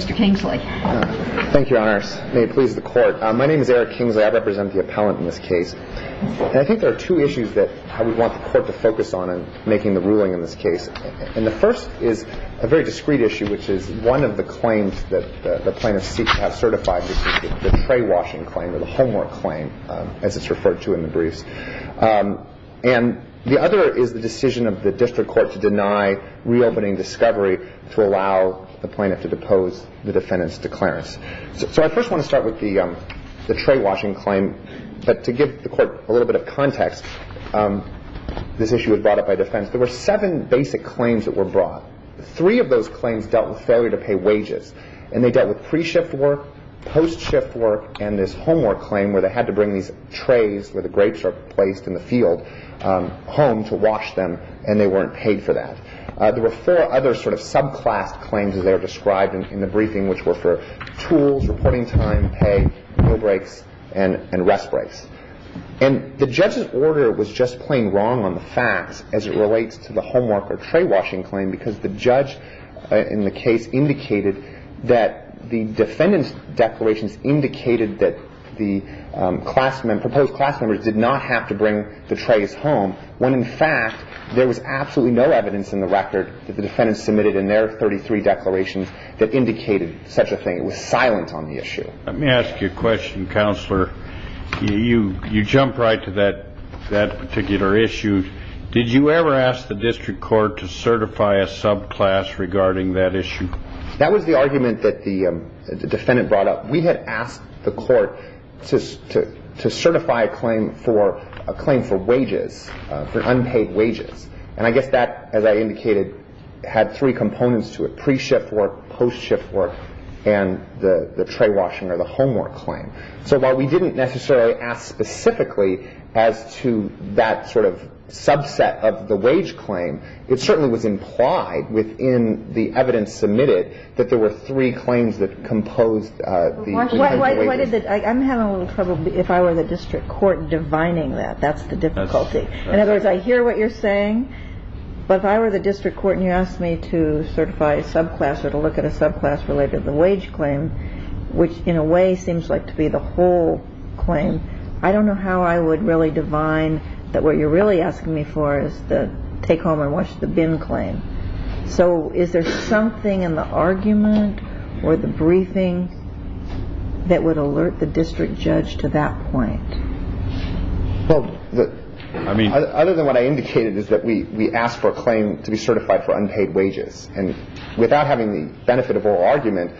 Mr. Kingsley. Thank you, Your Honor. May it please the Court. My name is Eric Kingsley. I represent the appellant in this case. And I think there are two issues that I would want the Court to focus on in making the ruling in this case. And the first is a very discreet issue, which is one of the claims that the plaintiff has certified, which is the tray washing claim or the homework claim, as it's referred to in the briefs. And the other is the decision of the District Court to deny reopening discovery to allow the plaintiff to depose the defendant's declarance. So I first want to start with the tray washing claim. But to give the Court a little bit of context, this issue was brought up by defense. There were seven basic claims that were brought. Three of those claims dealt with failure to pay wages. And they dealt with pre-shift work, post-shift work, and this homework claim where they had to bring these trays where the grapes are placed in the field home to wash them. And they weren't paid for that. There were four other sort of subclass claims that are described in the briefing, which were for tools, reporting time, pay, meal breaks, and rest breaks. And the judge's order was just plain wrong on the facts as it relates to the homework or tray washing claim because the judge in the case indicated that the defendant's declarations indicated that the proposed class members did not have to bring the trays home when, in fact, there was absolutely no evidence in the record that the defendant submitted in their 33 declarations that indicated such a thing. It was silent on the issue. Let me ask you a question, Counselor. You jump right to that particular issue. Did you ever ask the district court to certify a subclass regarding that issue? That was the argument that the defendant brought up. We had asked the court to certify a claim for wages, for unpaid wages. And I guess that, as I indicated, had three components to it, pre-shift work, post-shift work, and the tray washing or the homework claim. So while we didn't necessarily ask specifically as to that sort of subset of the wage claim, it certainly was implied within the evidence submitted that there were three claims that composed the wages. I'm having a little trouble if I were the district court divining that. That's the difficulty. In other words, I hear what you're saying, but if I were the district court and you asked me to certify a subclass or to look at a subclass related to the wage claim, which in a way seems like to be the whole claim, I don't know how I would really divine that what you're really asking me for is to take home and watch the BIM claim. So is there something in the argument or the briefing that would alert the district judge to that point? Well, other than what I indicated is that we asked for a claim to be certified for unpaid wages. And without having the benefit of oral argument,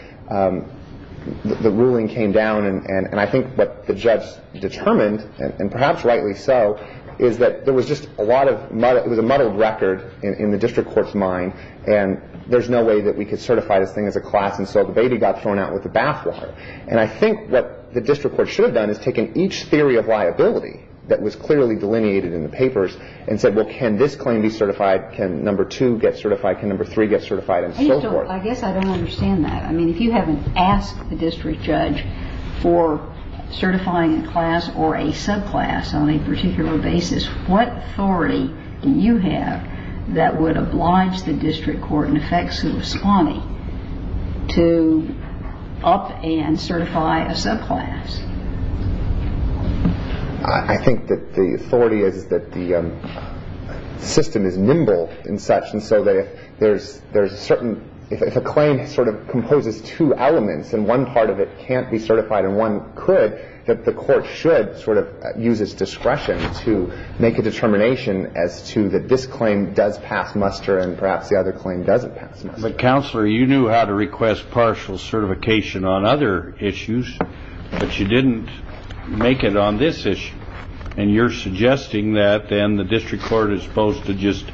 the ruling came down. And I think what the judge determined, and perhaps rightly so, is that there was just a lot of muddled record in the district court's mind. And there's no way that we could certify this thing as a class. And so the baby got thrown out with the bathwater. And I think what the district court should have done is taken each theory of liability that was clearly delineated in the papers and said, well, can this claim be certified? Can number two get certified? Can number three get certified? And so forth. I guess I don't understand that. I mean, if you haven't asked the district judge for certifying a class or a subclass on a particular basis, what authority do you have that would oblige the district court, in effect, to respond to up and certify a subclass? I think that the authority is that the system is nimble and such. And so that if there's a certain – if a claim sort of composes two elements and one part of it can't be certified and one could, that the court should sort of use its discretion to make a determination as to that this claim does pass muster and perhaps the other claim doesn't pass muster. But, Counselor, you knew how to request partial certification on other issues, but you didn't make it on this issue. And you're suggesting that then the district court is supposed to just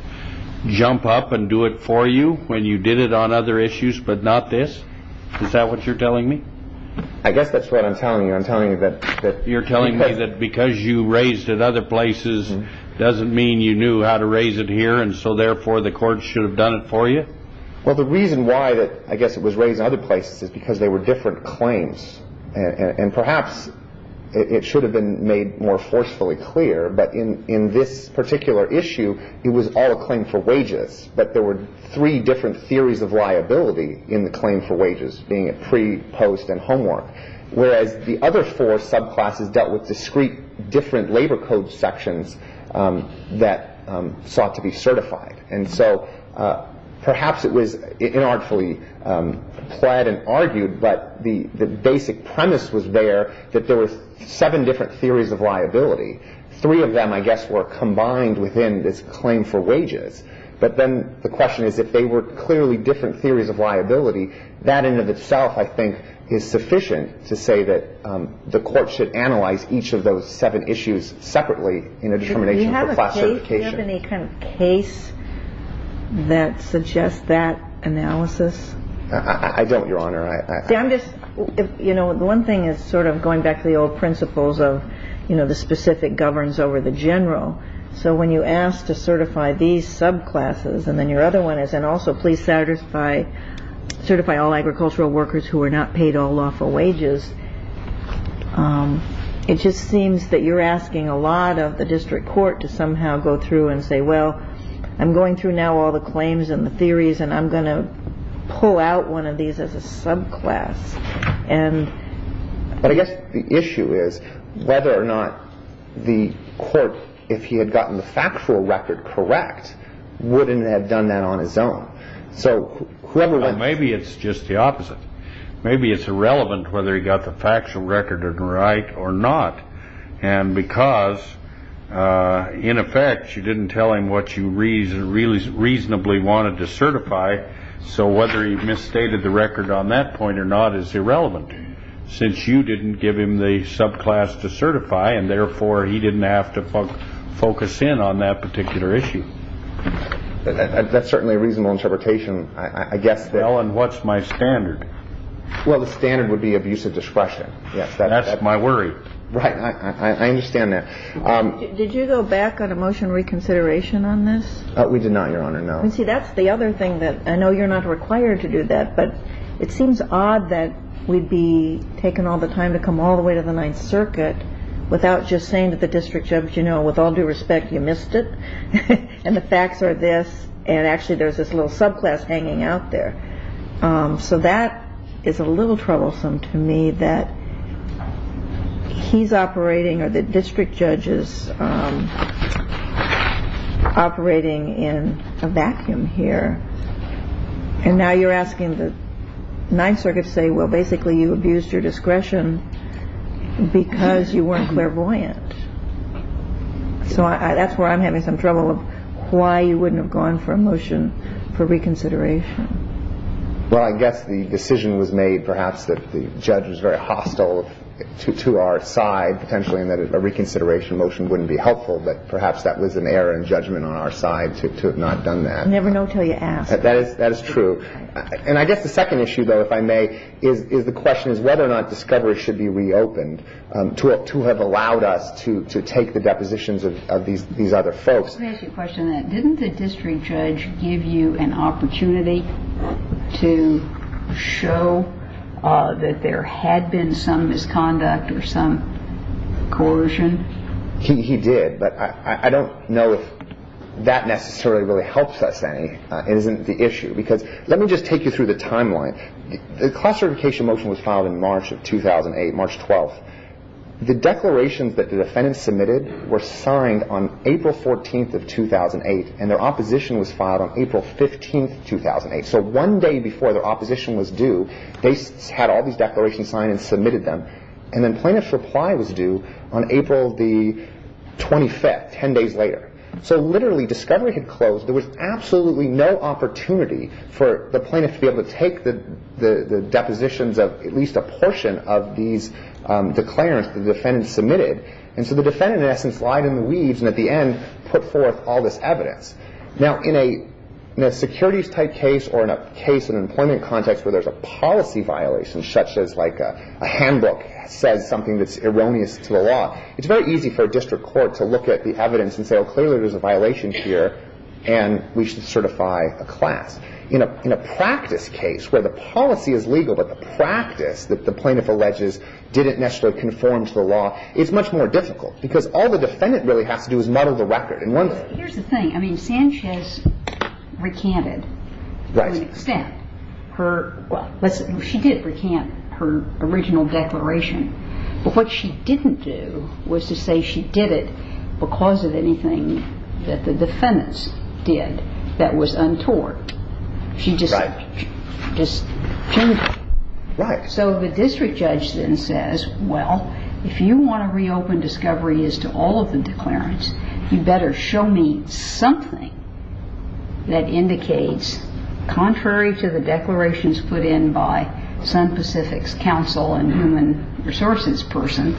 jump up and do it for you when you did it on other issues but not this? Is that what you're telling me? I guess that's what I'm telling you. I'm telling you that – You're telling me that because you raised it other places doesn't mean you knew how to raise it here and so, therefore, the court should have done it for you? Well, the reason why that, I guess, it was raised in other places is because they were different claims. And perhaps it should have been made more forcefully clear, but in this particular issue, it was all a claim for wages, but there were three different theories of liability in the claim for wages, being it pre, post, and homework, whereas the other four subclasses dealt with discrete, different labor code sections that sought to be certified. And so perhaps it was inartfully plied and argued, but the basic premise was there that there were seven different theories of liability. Three of them, I guess, were combined within this claim for wages, but then the question is if they were clearly different theories of liability, that in and of itself, I think, is sufficient to say that the court should analyze each of those seven issues separately in a determination for class certification. Do you have any kind of case that suggests that analysis? I don't, Your Honor. See, I'm just, you know, the one thing is sort of going back to the old principles of, you know, the specific governs over the general. So when you ask to certify these subclasses, and then your other one is, and also please certify all agricultural workers who are not paid all lawful wages, it just seems that you're asking a lot of the district court to somehow go through and say, well, I'm going through now all the claims and the theories, and I'm going to pull out one of these as a subclass. But I guess the issue is whether or not the court, if he had gotten the factual record correct, wouldn't have done that on his own. So whoever wins. Maybe it's just the opposite. Maybe it's irrelevant whether he got the factual record right or not, and because, in effect, you didn't tell him what you reasonably wanted to certify. So whether he misstated the record on that point or not is irrelevant, since you didn't give him the subclass to certify, and therefore he didn't have to focus in on that particular issue. That's certainly a reasonable interpretation. I guess that. Well, and what's my standard? Well, the standard would be abusive discretion. That's my worry. Right. I understand that. Did you go back on a motion reconsideration on this? We did not, Your Honor, no. See, that's the other thing that I know you're not required to do that, but it seems odd that we'd be taking all the time to come all the way to the Ninth Circuit without just saying to the district judge, you know, with all due respect, you missed it, and the facts are this, and actually there's this little subclass hanging out there. So that is a little troublesome to me that he's operating or the district judge is operating in a vacuum here. And now you're asking the Ninth Circuit to say, well, basically you abused your discretion because you weren't clairvoyant. So that's where I'm having some trouble of why you wouldn't have gone for a motion for reconsideration. Well, I guess the decision was made perhaps that the judge was very hostile to our side potentially and that a reconsideration motion wouldn't be helpful, but perhaps that was an error in judgment on our side to have not done that. Never know till you ask. That is true. And I guess the second issue, though, if I may, is the question is whether or not discovery should be reopened to have allowed us to take the depositions of these other folks. Let me ask you a question on that. Didn't the district judge give you an opportunity to show that there had been some misconduct or some coercion? He did, but I don't know if that necessarily really helps us any. It isn't the issue because let me just take you through the timeline. The class certification motion was filed in March of 2008, March 12th. The declarations that the defendants submitted were signed on April 14th of 2008 and their opposition was filed on April 15th, 2008. So one day before their opposition was due, they had all these declarations signed and submitted them, and then plaintiff's reply was due on April 25th, 10 days later. So literally discovery had closed. There was absolutely no opportunity for the plaintiff to be able to take the depositions of at least a portion of these declarations the defendants submitted. And so the defendant, in essence, lied in the weeds and at the end put forth all this evidence. Now, in a securities-type case or in a case in an employment context where there's a policy violation, such as like a handbook says something that's erroneous to the law, it's very easy for a district court to look at the evidence and say, well, clearly there's a violation here and we should certify a class. In a practice case where the policy is legal but the practice that the plaintiff alleges didn't necessarily conform to the law, it's much more difficult because all the defendant really has to do is muddle the record in one thing. Here's the thing. I mean, Sanchez recanted to an extent. Well, she did recant her original declaration. But what she didn't do was to say she did it because of anything that the defendants did that was untoward. She just changed it. So the district judge then says, well, if you want to reopen discovery as to all of the declarants, you better show me something that indicates contrary to the declarations put in by Sun Pacific's counsel and human resources person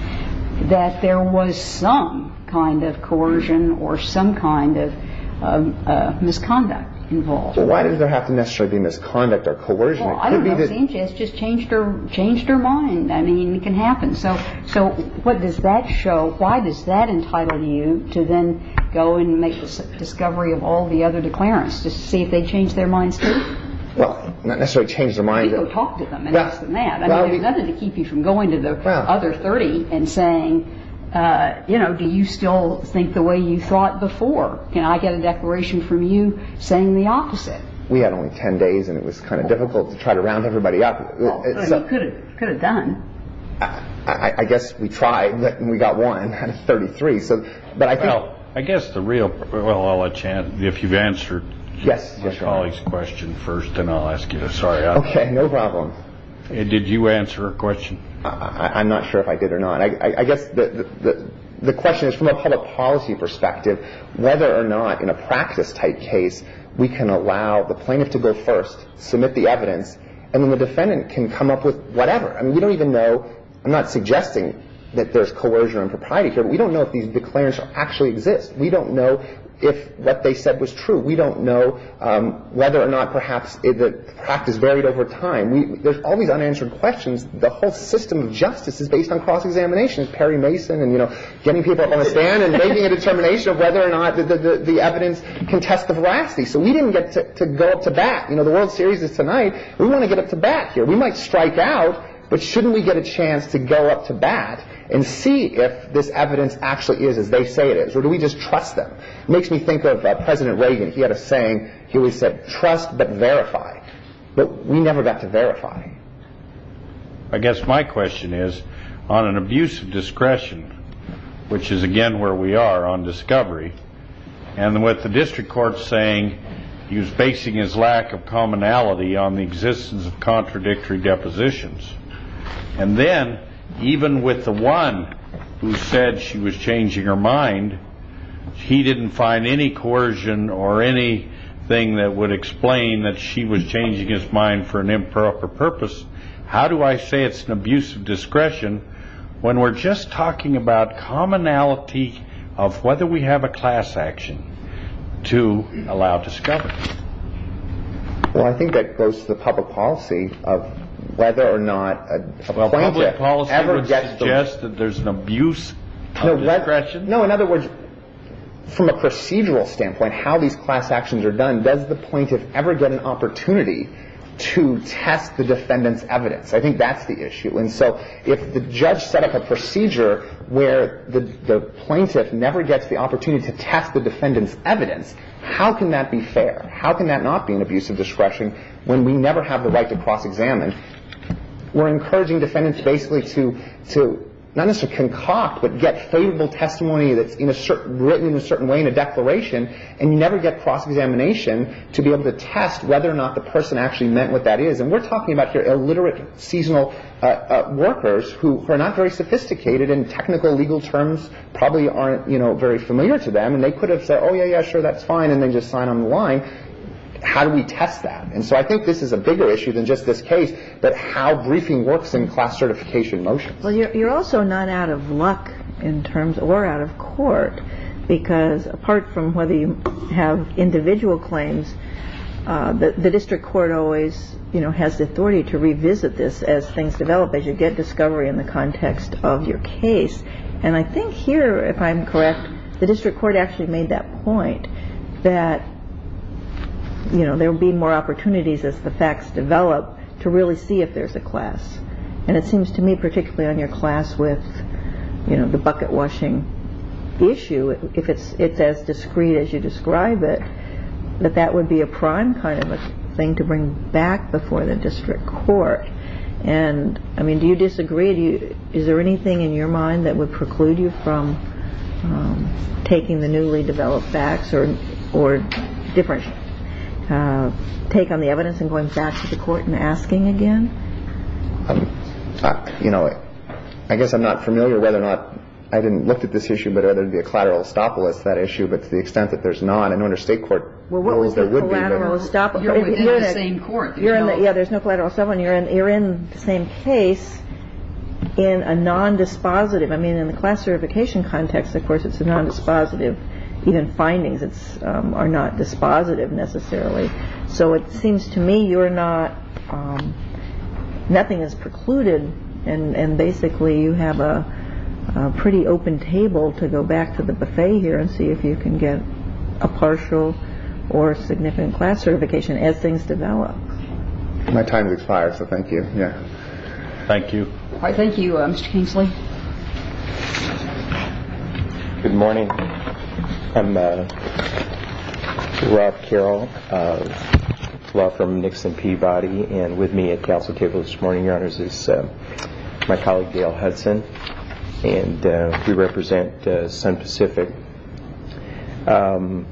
that there was some kind of coercion or some kind of misconduct involved. Well, why does there have to necessarily be misconduct or coercion? Well, I don't know. Sanchez just changed her mind. I mean, it can happen. So what does that show? Why does that entitle you to then go and make a discovery of all the other declarants to see if they changed their minds too? Well, not necessarily change their mind. People talk to them and ask them that. I mean, there's nothing to keep you from going to the other 30 and saying, you know, do you still think the way you thought before? Can I get a declaration from you saying the opposite? We had only 10 days, and it was kind of difficult to try to round everybody up. You could have done. I guess we tried, and we got one out of 33. Well, I guess the real – well, if you've answered my colleague's question first, then I'll ask you this. Okay, no problem. Did you answer her question? I'm not sure if I did or not. I guess the question is from a public policy perspective, whether or not in a practice-type case we can allow the plaintiff to go first, submit the evidence, and then the defendant can come up with whatever. I mean, we don't even know – I'm not suggesting that there's coercion or impropriety here, but we don't know if these declarations actually exist. We don't know if what they said was true. We don't know whether or not perhaps the practice varied over time. There's all these unanswered questions. The whole system of justice is based on cross-examinations, Perry Mason and, you know, getting people up on a stand and making a determination of whether or not the evidence can test the veracity. So we didn't get to go up to bat. You know, the World Series is tonight. We want to get up to bat here. We might strike out, but shouldn't we get a chance to go up to bat and see if this evidence actually is as they say it is, or do we just trust them? It makes me think of President Reagan. He had a saying. He always said, trust but verify. But we never got to verify. I guess my question is, on an abuse of discretion, which is again where we are on discovery, and with the district court saying he was basing his lack of commonality on the existence of contradictory depositions, and then even with the one who said she was changing her mind, he didn't find any coercion or anything that would explain that she was changing his mind for an improper purpose. How do I say it's an abuse of discretion when we're just talking about commonality of whether we have a class action to allow discovery? Well, I think that goes to the public policy of whether or not a plaintiff ever gets those. Well, public policy would suggest that there's an abuse of discretion? No, in other words, from a procedural standpoint, how these class actions are done, does the plaintiff ever get an opportunity to test the defendant's evidence? I think that's the issue. And so if the judge set up a procedure where the plaintiff never gets the opportunity to test the defendant's evidence, how can that be fair? How can that not be an abuse of discretion when we never have the right to cross-examine? We're encouraging defendants basically to not necessarily concoct but get favorable testimony that's written in a certain way in a declaration, and you never get cross-examination to be able to test whether or not the person actually meant what that is. And we're talking about here illiterate seasonal workers who are not very sophisticated and technical legal terms probably aren't, you know, very familiar to them. And they could have said, oh, yeah, yeah, sure, that's fine, and then just sign on the line. How do we test that? And so I think this is a bigger issue than just this case, but how briefing works in class certification motions. Well, you're also not out of luck in terms or out of court, because apart from whether you have individual claims, the district court always, you know, has the authority to revisit this as things develop, as you get discovery in the context of your case. And I think here, if I'm correct, the district court actually made that point that, you know, there will be more opportunities as the facts develop to really see if there's a class. And it seems to me particularly on your class with, you know, the bucket washing issue, if it's as discreet as you describe it, that that would be a prime kind of a thing to bring back before the district court. And, I mean, do you disagree? Is there anything in your mind that would preclude you from taking the newly developed facts or different take on the evidence and going back to the court and asking again? You know, I guess I'm not familiar whether or not I didn't look at this issue, but whether it would be a collateral estoppel is that issue. But to the extent that there's none, I know under state court rules there would be. Well, what was the collateral estoppel? You're within the same court. Yeah, there's no collateral estoppel, and you're in the same case in a non-dispositive. I mean, in the class certification context, of course, it's a non-dispositive. Even findings are not dispositive necessarily. So it seems to me you're not, nothing is precluded, and basically you have a pretty open table to go back to the buffet here and see if you can get a partial or significant class certification as things develop. My time has expired, so thank you. Thank you. Thank you, Mr. Kingsley. Good morning. I'm Rob Carroll. I'm from the Nixon Peabody, and with me at council table this morning, Your Honors, is my colleague Dale Hudson, and we represent Sun Pacific. Mr.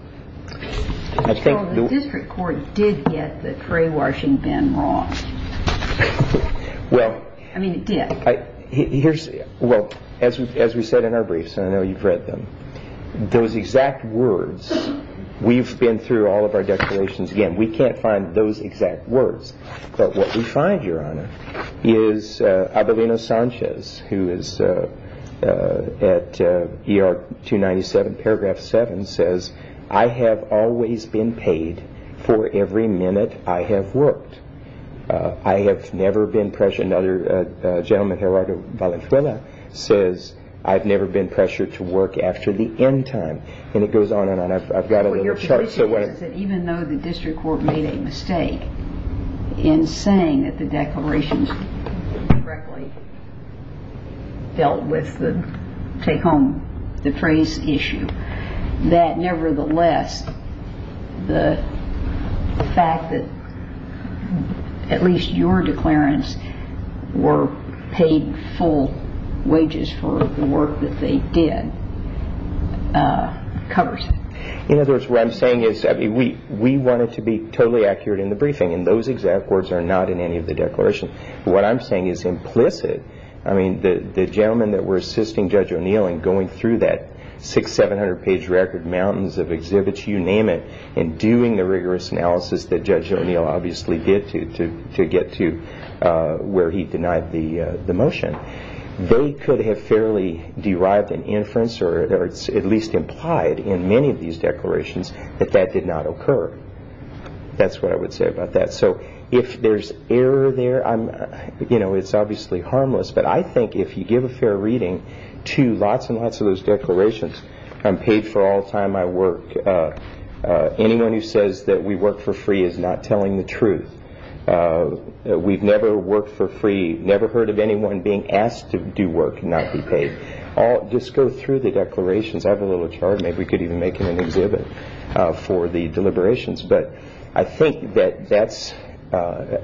Carroll, the district court did get the cray-washing bin wrong. I mean, it did. Well, as we said in our briefs, and I know you've read them, those exact words, we've been through all of our declarations. Again, we can't find those exact words, but what we find, Your Honor, is Abelino Sanchez, who is at ER 297, paragraph 7, says, I have always been paid for every minute I have worked. I have never been pressured. Another gentleman, Gerardo Valenzuela, says, I've never been pressured to work after the end time. And it goes on and on. I've got a little chart. Your position is that even though the district court made a mistake in saying that the declarations directly dealt with the take-home-the-praise issue, that nevertheless the fact that at least your declarants were paid full wages for the work that they did covers it. In other words, what I'm saying is we want it to be totally accurate in the briefing, and those exact words are not in any of the declarations. What I'm saying is implicit. I mean, the gentleman that we're assisting, Judge O'Neill, and going through that six-, seven-hundred-page record, mountains of exhibits, you name it, and doing the rigorous analysis that Judge O'Neill obviously did to get to where he denied the motion, they could have fairly derived an inference or at least implied in many of these declarations that that did not occur. That's what I would say about that. So if there's error there, it's obviously harmless, but I think if you give a fair reading to lots and lots of those declarations, I'm paid for all the time I work, anyone who says that we work for free is not telling the truth. We've never worked for free, never heard of anyone being asked to do work and not be paid. Just go through the declarations. I have a little chart. Maybe we could even make an exhibit for the deliberations. But I think that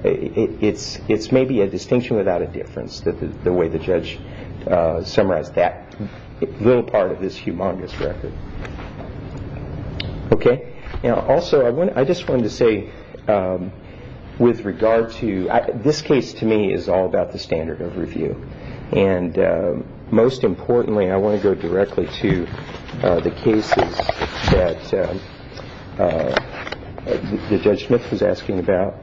it's maybe a distinction without a difference, the way the judge summarized that little part of this humongous record. Also, I just wanted to say with regard to this case to me is all about the standard of review. And most importantly, I want to go directly to the cases that the judgment was asking about,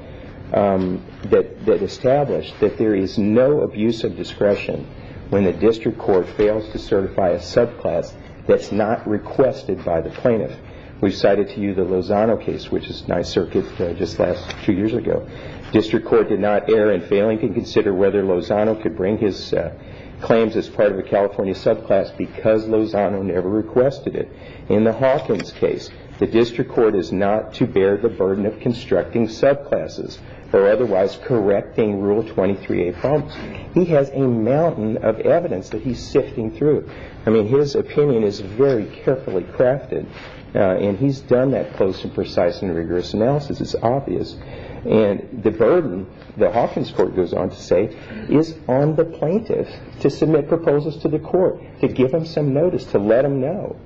that established that there is no abuse of discretion when the district court fails to certify a subclass. That's not requested by the plaintiff. We've cited to you the Lozano case, which is my circuit just last two years ago. District court did not err in failing to consider whether Lozano could bring his claims as part of a California subclass because Lozano never requested it. In the Hawkins case, the district court is not to bear the burden of constructing subclasses or otherwise correcting Rule 23A problems. He has a mountain of evidence that he's sifting through. I mean, his opinion is very carefully crafted, and he's done that close and precise and rigorous analysis. It's obvious. And the burden, the Hawkins court goes on to say, is on the plaintiff to submit proposals to the court, to give him some notice, to let him know.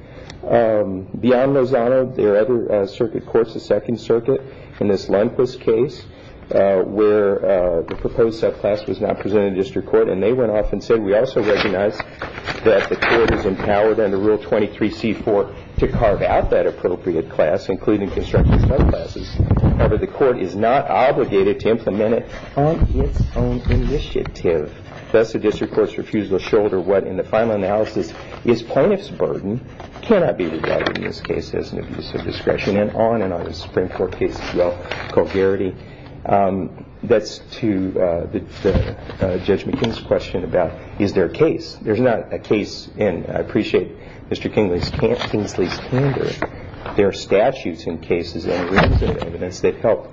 Beyond Lozano, there are other circuit courts, the Second Circuit, in this Lundquist case where the proposed subclass was not presented to district court, and they went off and said, We also recognize that the court is empowered under Rule 23C-4 to carve out that appropriate class, including constructing subclasses. However, the court is not obligated to implement it on its own initiative. Thus, the district court's refusal to shoulder what, in the final analysis, is plaintiff's burden cannot be regarded in this case as an abuse of discretion, and on and on the Supreme Court case as well. That's to Judge McKinney's question about, is there a case? There's not a case, and I appreciate Mr. Kingsley's candor. There are statutes in cases and reasons and evidence that help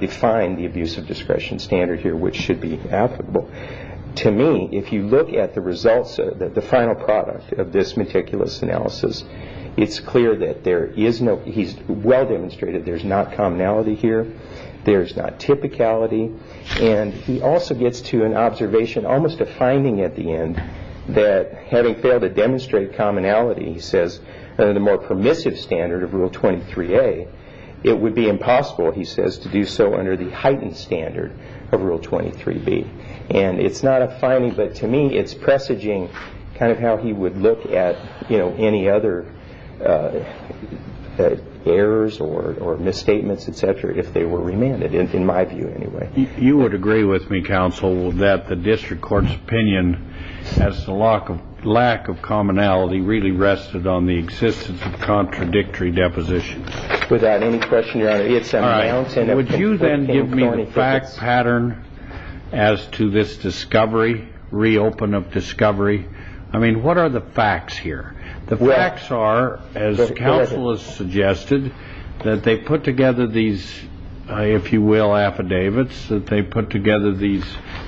define the abuse of discretion standard here, which should be applicable. To me, if you look at the results, the final product of this meticulous analysis, it's clear that there is no, he's well demonstrated there's not commonality here. There's not typicality. And he also gets to an observation, almost a finding at the end, that having failed to demonstrate commonality, he says, under the more permissive standard of Rule 23A, it would be impossible, he says, to do so under the heightened standard of Rule 23B. And it's not a finding, but to me it's presaging kind of how he would look at any other errors or misstatements, et cetera, if they were remanded, in my view anyway. You would agree with me, Counsel, that the district court's opinion as to lack of commonality really rested on the existence of contradictory depositions? Without any question, Your Honor, it's my own statement. Would you then give me the fact pattern as to this discovery, reopen of discovery? I mean, what are the facts here? The facts are, as Counsel has suggested, that they put together these, if you will, affidavits, that they put together these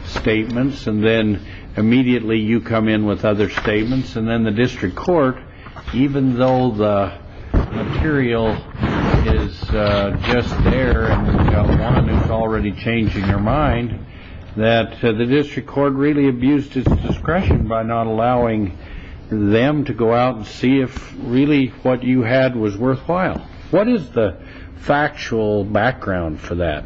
statements, and then immediately you come in with other statements. And then the district court, even though the material is just there, and you've got one that's already changing your mind, that the district court really abused its discretion by not allowing them to go out and see if really what you had was worthwhile. What is the factual background for that?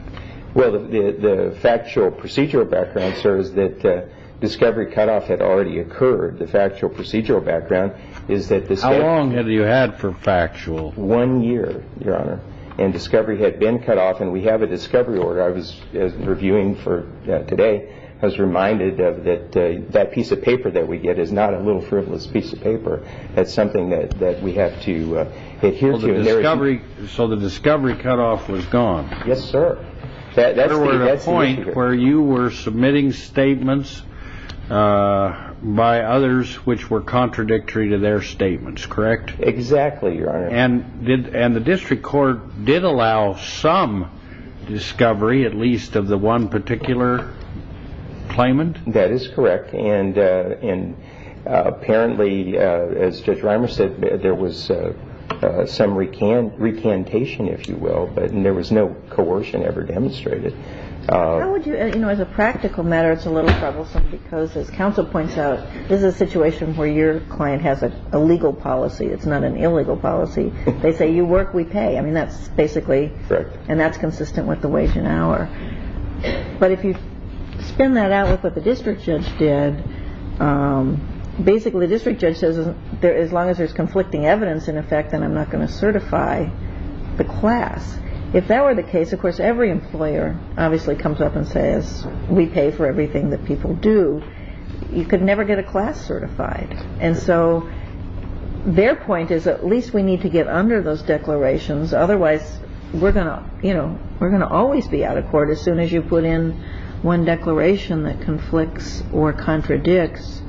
Well, the factual procedural background, sir, is that discovery cutoff had already occurred. The factual procedural background is that the state... How long have you had for factual? One year, Your Honor, and discovery had been cut off, and we have a discovery order. I was reviewing for today. I was reminded that that piece of paper that we get is not a little frivolous piece of paper. That's something that we have to adhere to. So the discovery cutoff was gone? Yes, sir. In other words, a point where you were submitting statements by others Exactly, Your Honor. And the district court did allow some discovery, at least of the one particular claimant? That is correct. And apparently, as Judge Reimer said, there was some recantation, if you will, and there was no coercion ever demonstrated. How would you, you know, as a practical matter, it's a little frivolous because as counsel points out, this is a situation where your client has a legal policy. It's not an illegal policy. They say, you work, we pay. I mean, that's basically... Correct. And that's consistent with the wage and hour. But if you spin that out with what the district judge did, basically the district judge says, as long as there's conflicting evidence in effect, then I'm not going to certify the class. If that were the case, of course, every employer obviously comes up and says, we pay for everything that people do. You could never get a class certified. And so their point is at least we need to get under those declarations. Otherwise, we're going to always be out of court as soon as you put in one declaration that conflicts or contradicts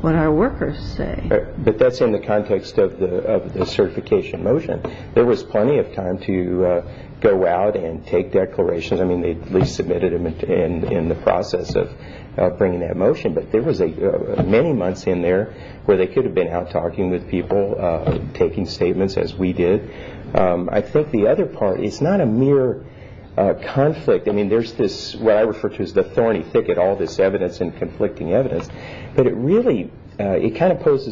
what our workers say. But that's in the context of the certification motion. There was plenty of time to go out and take declarations. I mean, they submitted them in the process of bringing that motion. But there was many months in there where they could have been out talking with people, taking statements as we did. I think the other part is not a mere conflict. I mean, there's this, what I refer to as the thorny thicket, all this evidence and conflicting evidence. But it really kind of points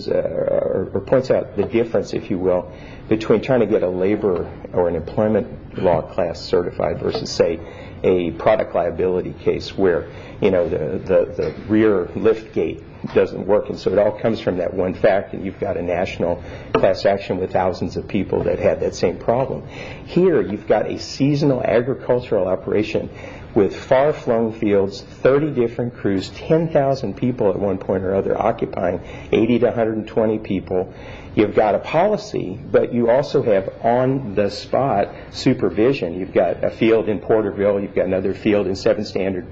out the difference, if you will, between trying to get a labor or an employment law class certified versus, say, a product liability case where the rear lift gate doesn't work. And so it all comes from that one fact that you've got a national class action with thousands of people that had that same problem. Here, you've got a seasonal agricultural operation with far-flung fields, 30 different crews, 10,000 people at one point or other occupying 80 to 120 people. You've got a policy, but you also have on-the-spot supervision. You've got a field in Porterville. You've got another field in Seven Standard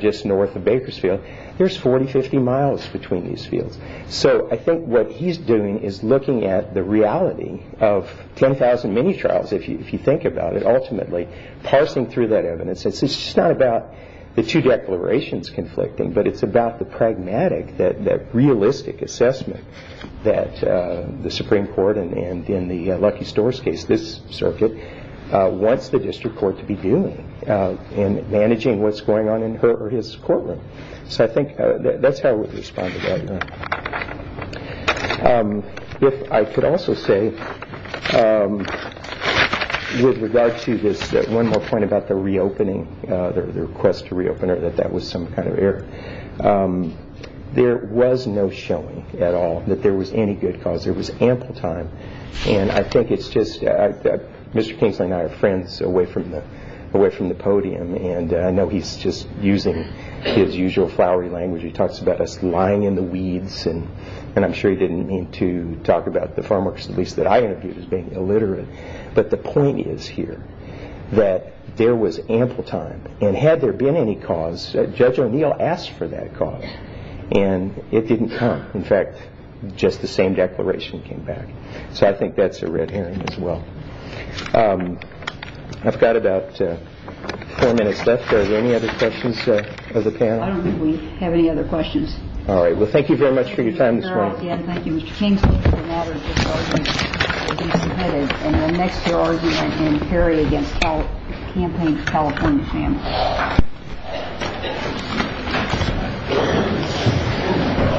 just north of Bakersfield. There's 40, 50 miles between these fields. So I think what he's doing is looking at the reality of 10,000 mini-trials, if you think about it, ultimately, parsing through that evidence. It's just not about the two declarations conflicting, but it's about the pragmatic, that realistic assessment that the Supreme Court and in the Lucky Stores case, this circuit, wants the district court to be doing in managing what's going on in her or his courtroom. So I think that's how I would respond to that. If I could also say with regard to this one more point about the reopening, the request to reopen or that that was some kind of error, there was no showing at all that there was any good cause. There was ample time. I think it's just Mr. Kingsley and I are friends away from the podium, and I know he's just using his usual flowery language. He talks about us lying in the weeds, and I'm sure he didn't mean to talk about the farm workers, at least that I interviewed, as being illiterate. But the point is here that there was ample time, and had there been any cause, Judge O'Neill asked for that cause, and it didn't come. In fact, just the same declaration came back. So I think that's a red herring as well. I've got about four minutes left. Are there any other questions of the panel? I don't think we have any other questions. All right. Well, thank you very much for your time this morning. Thank you, Mr. Carroll. Again, thank you, Mr. Kingsley, for the matters that you submitted in our next year argument in Perry against campaign's California families.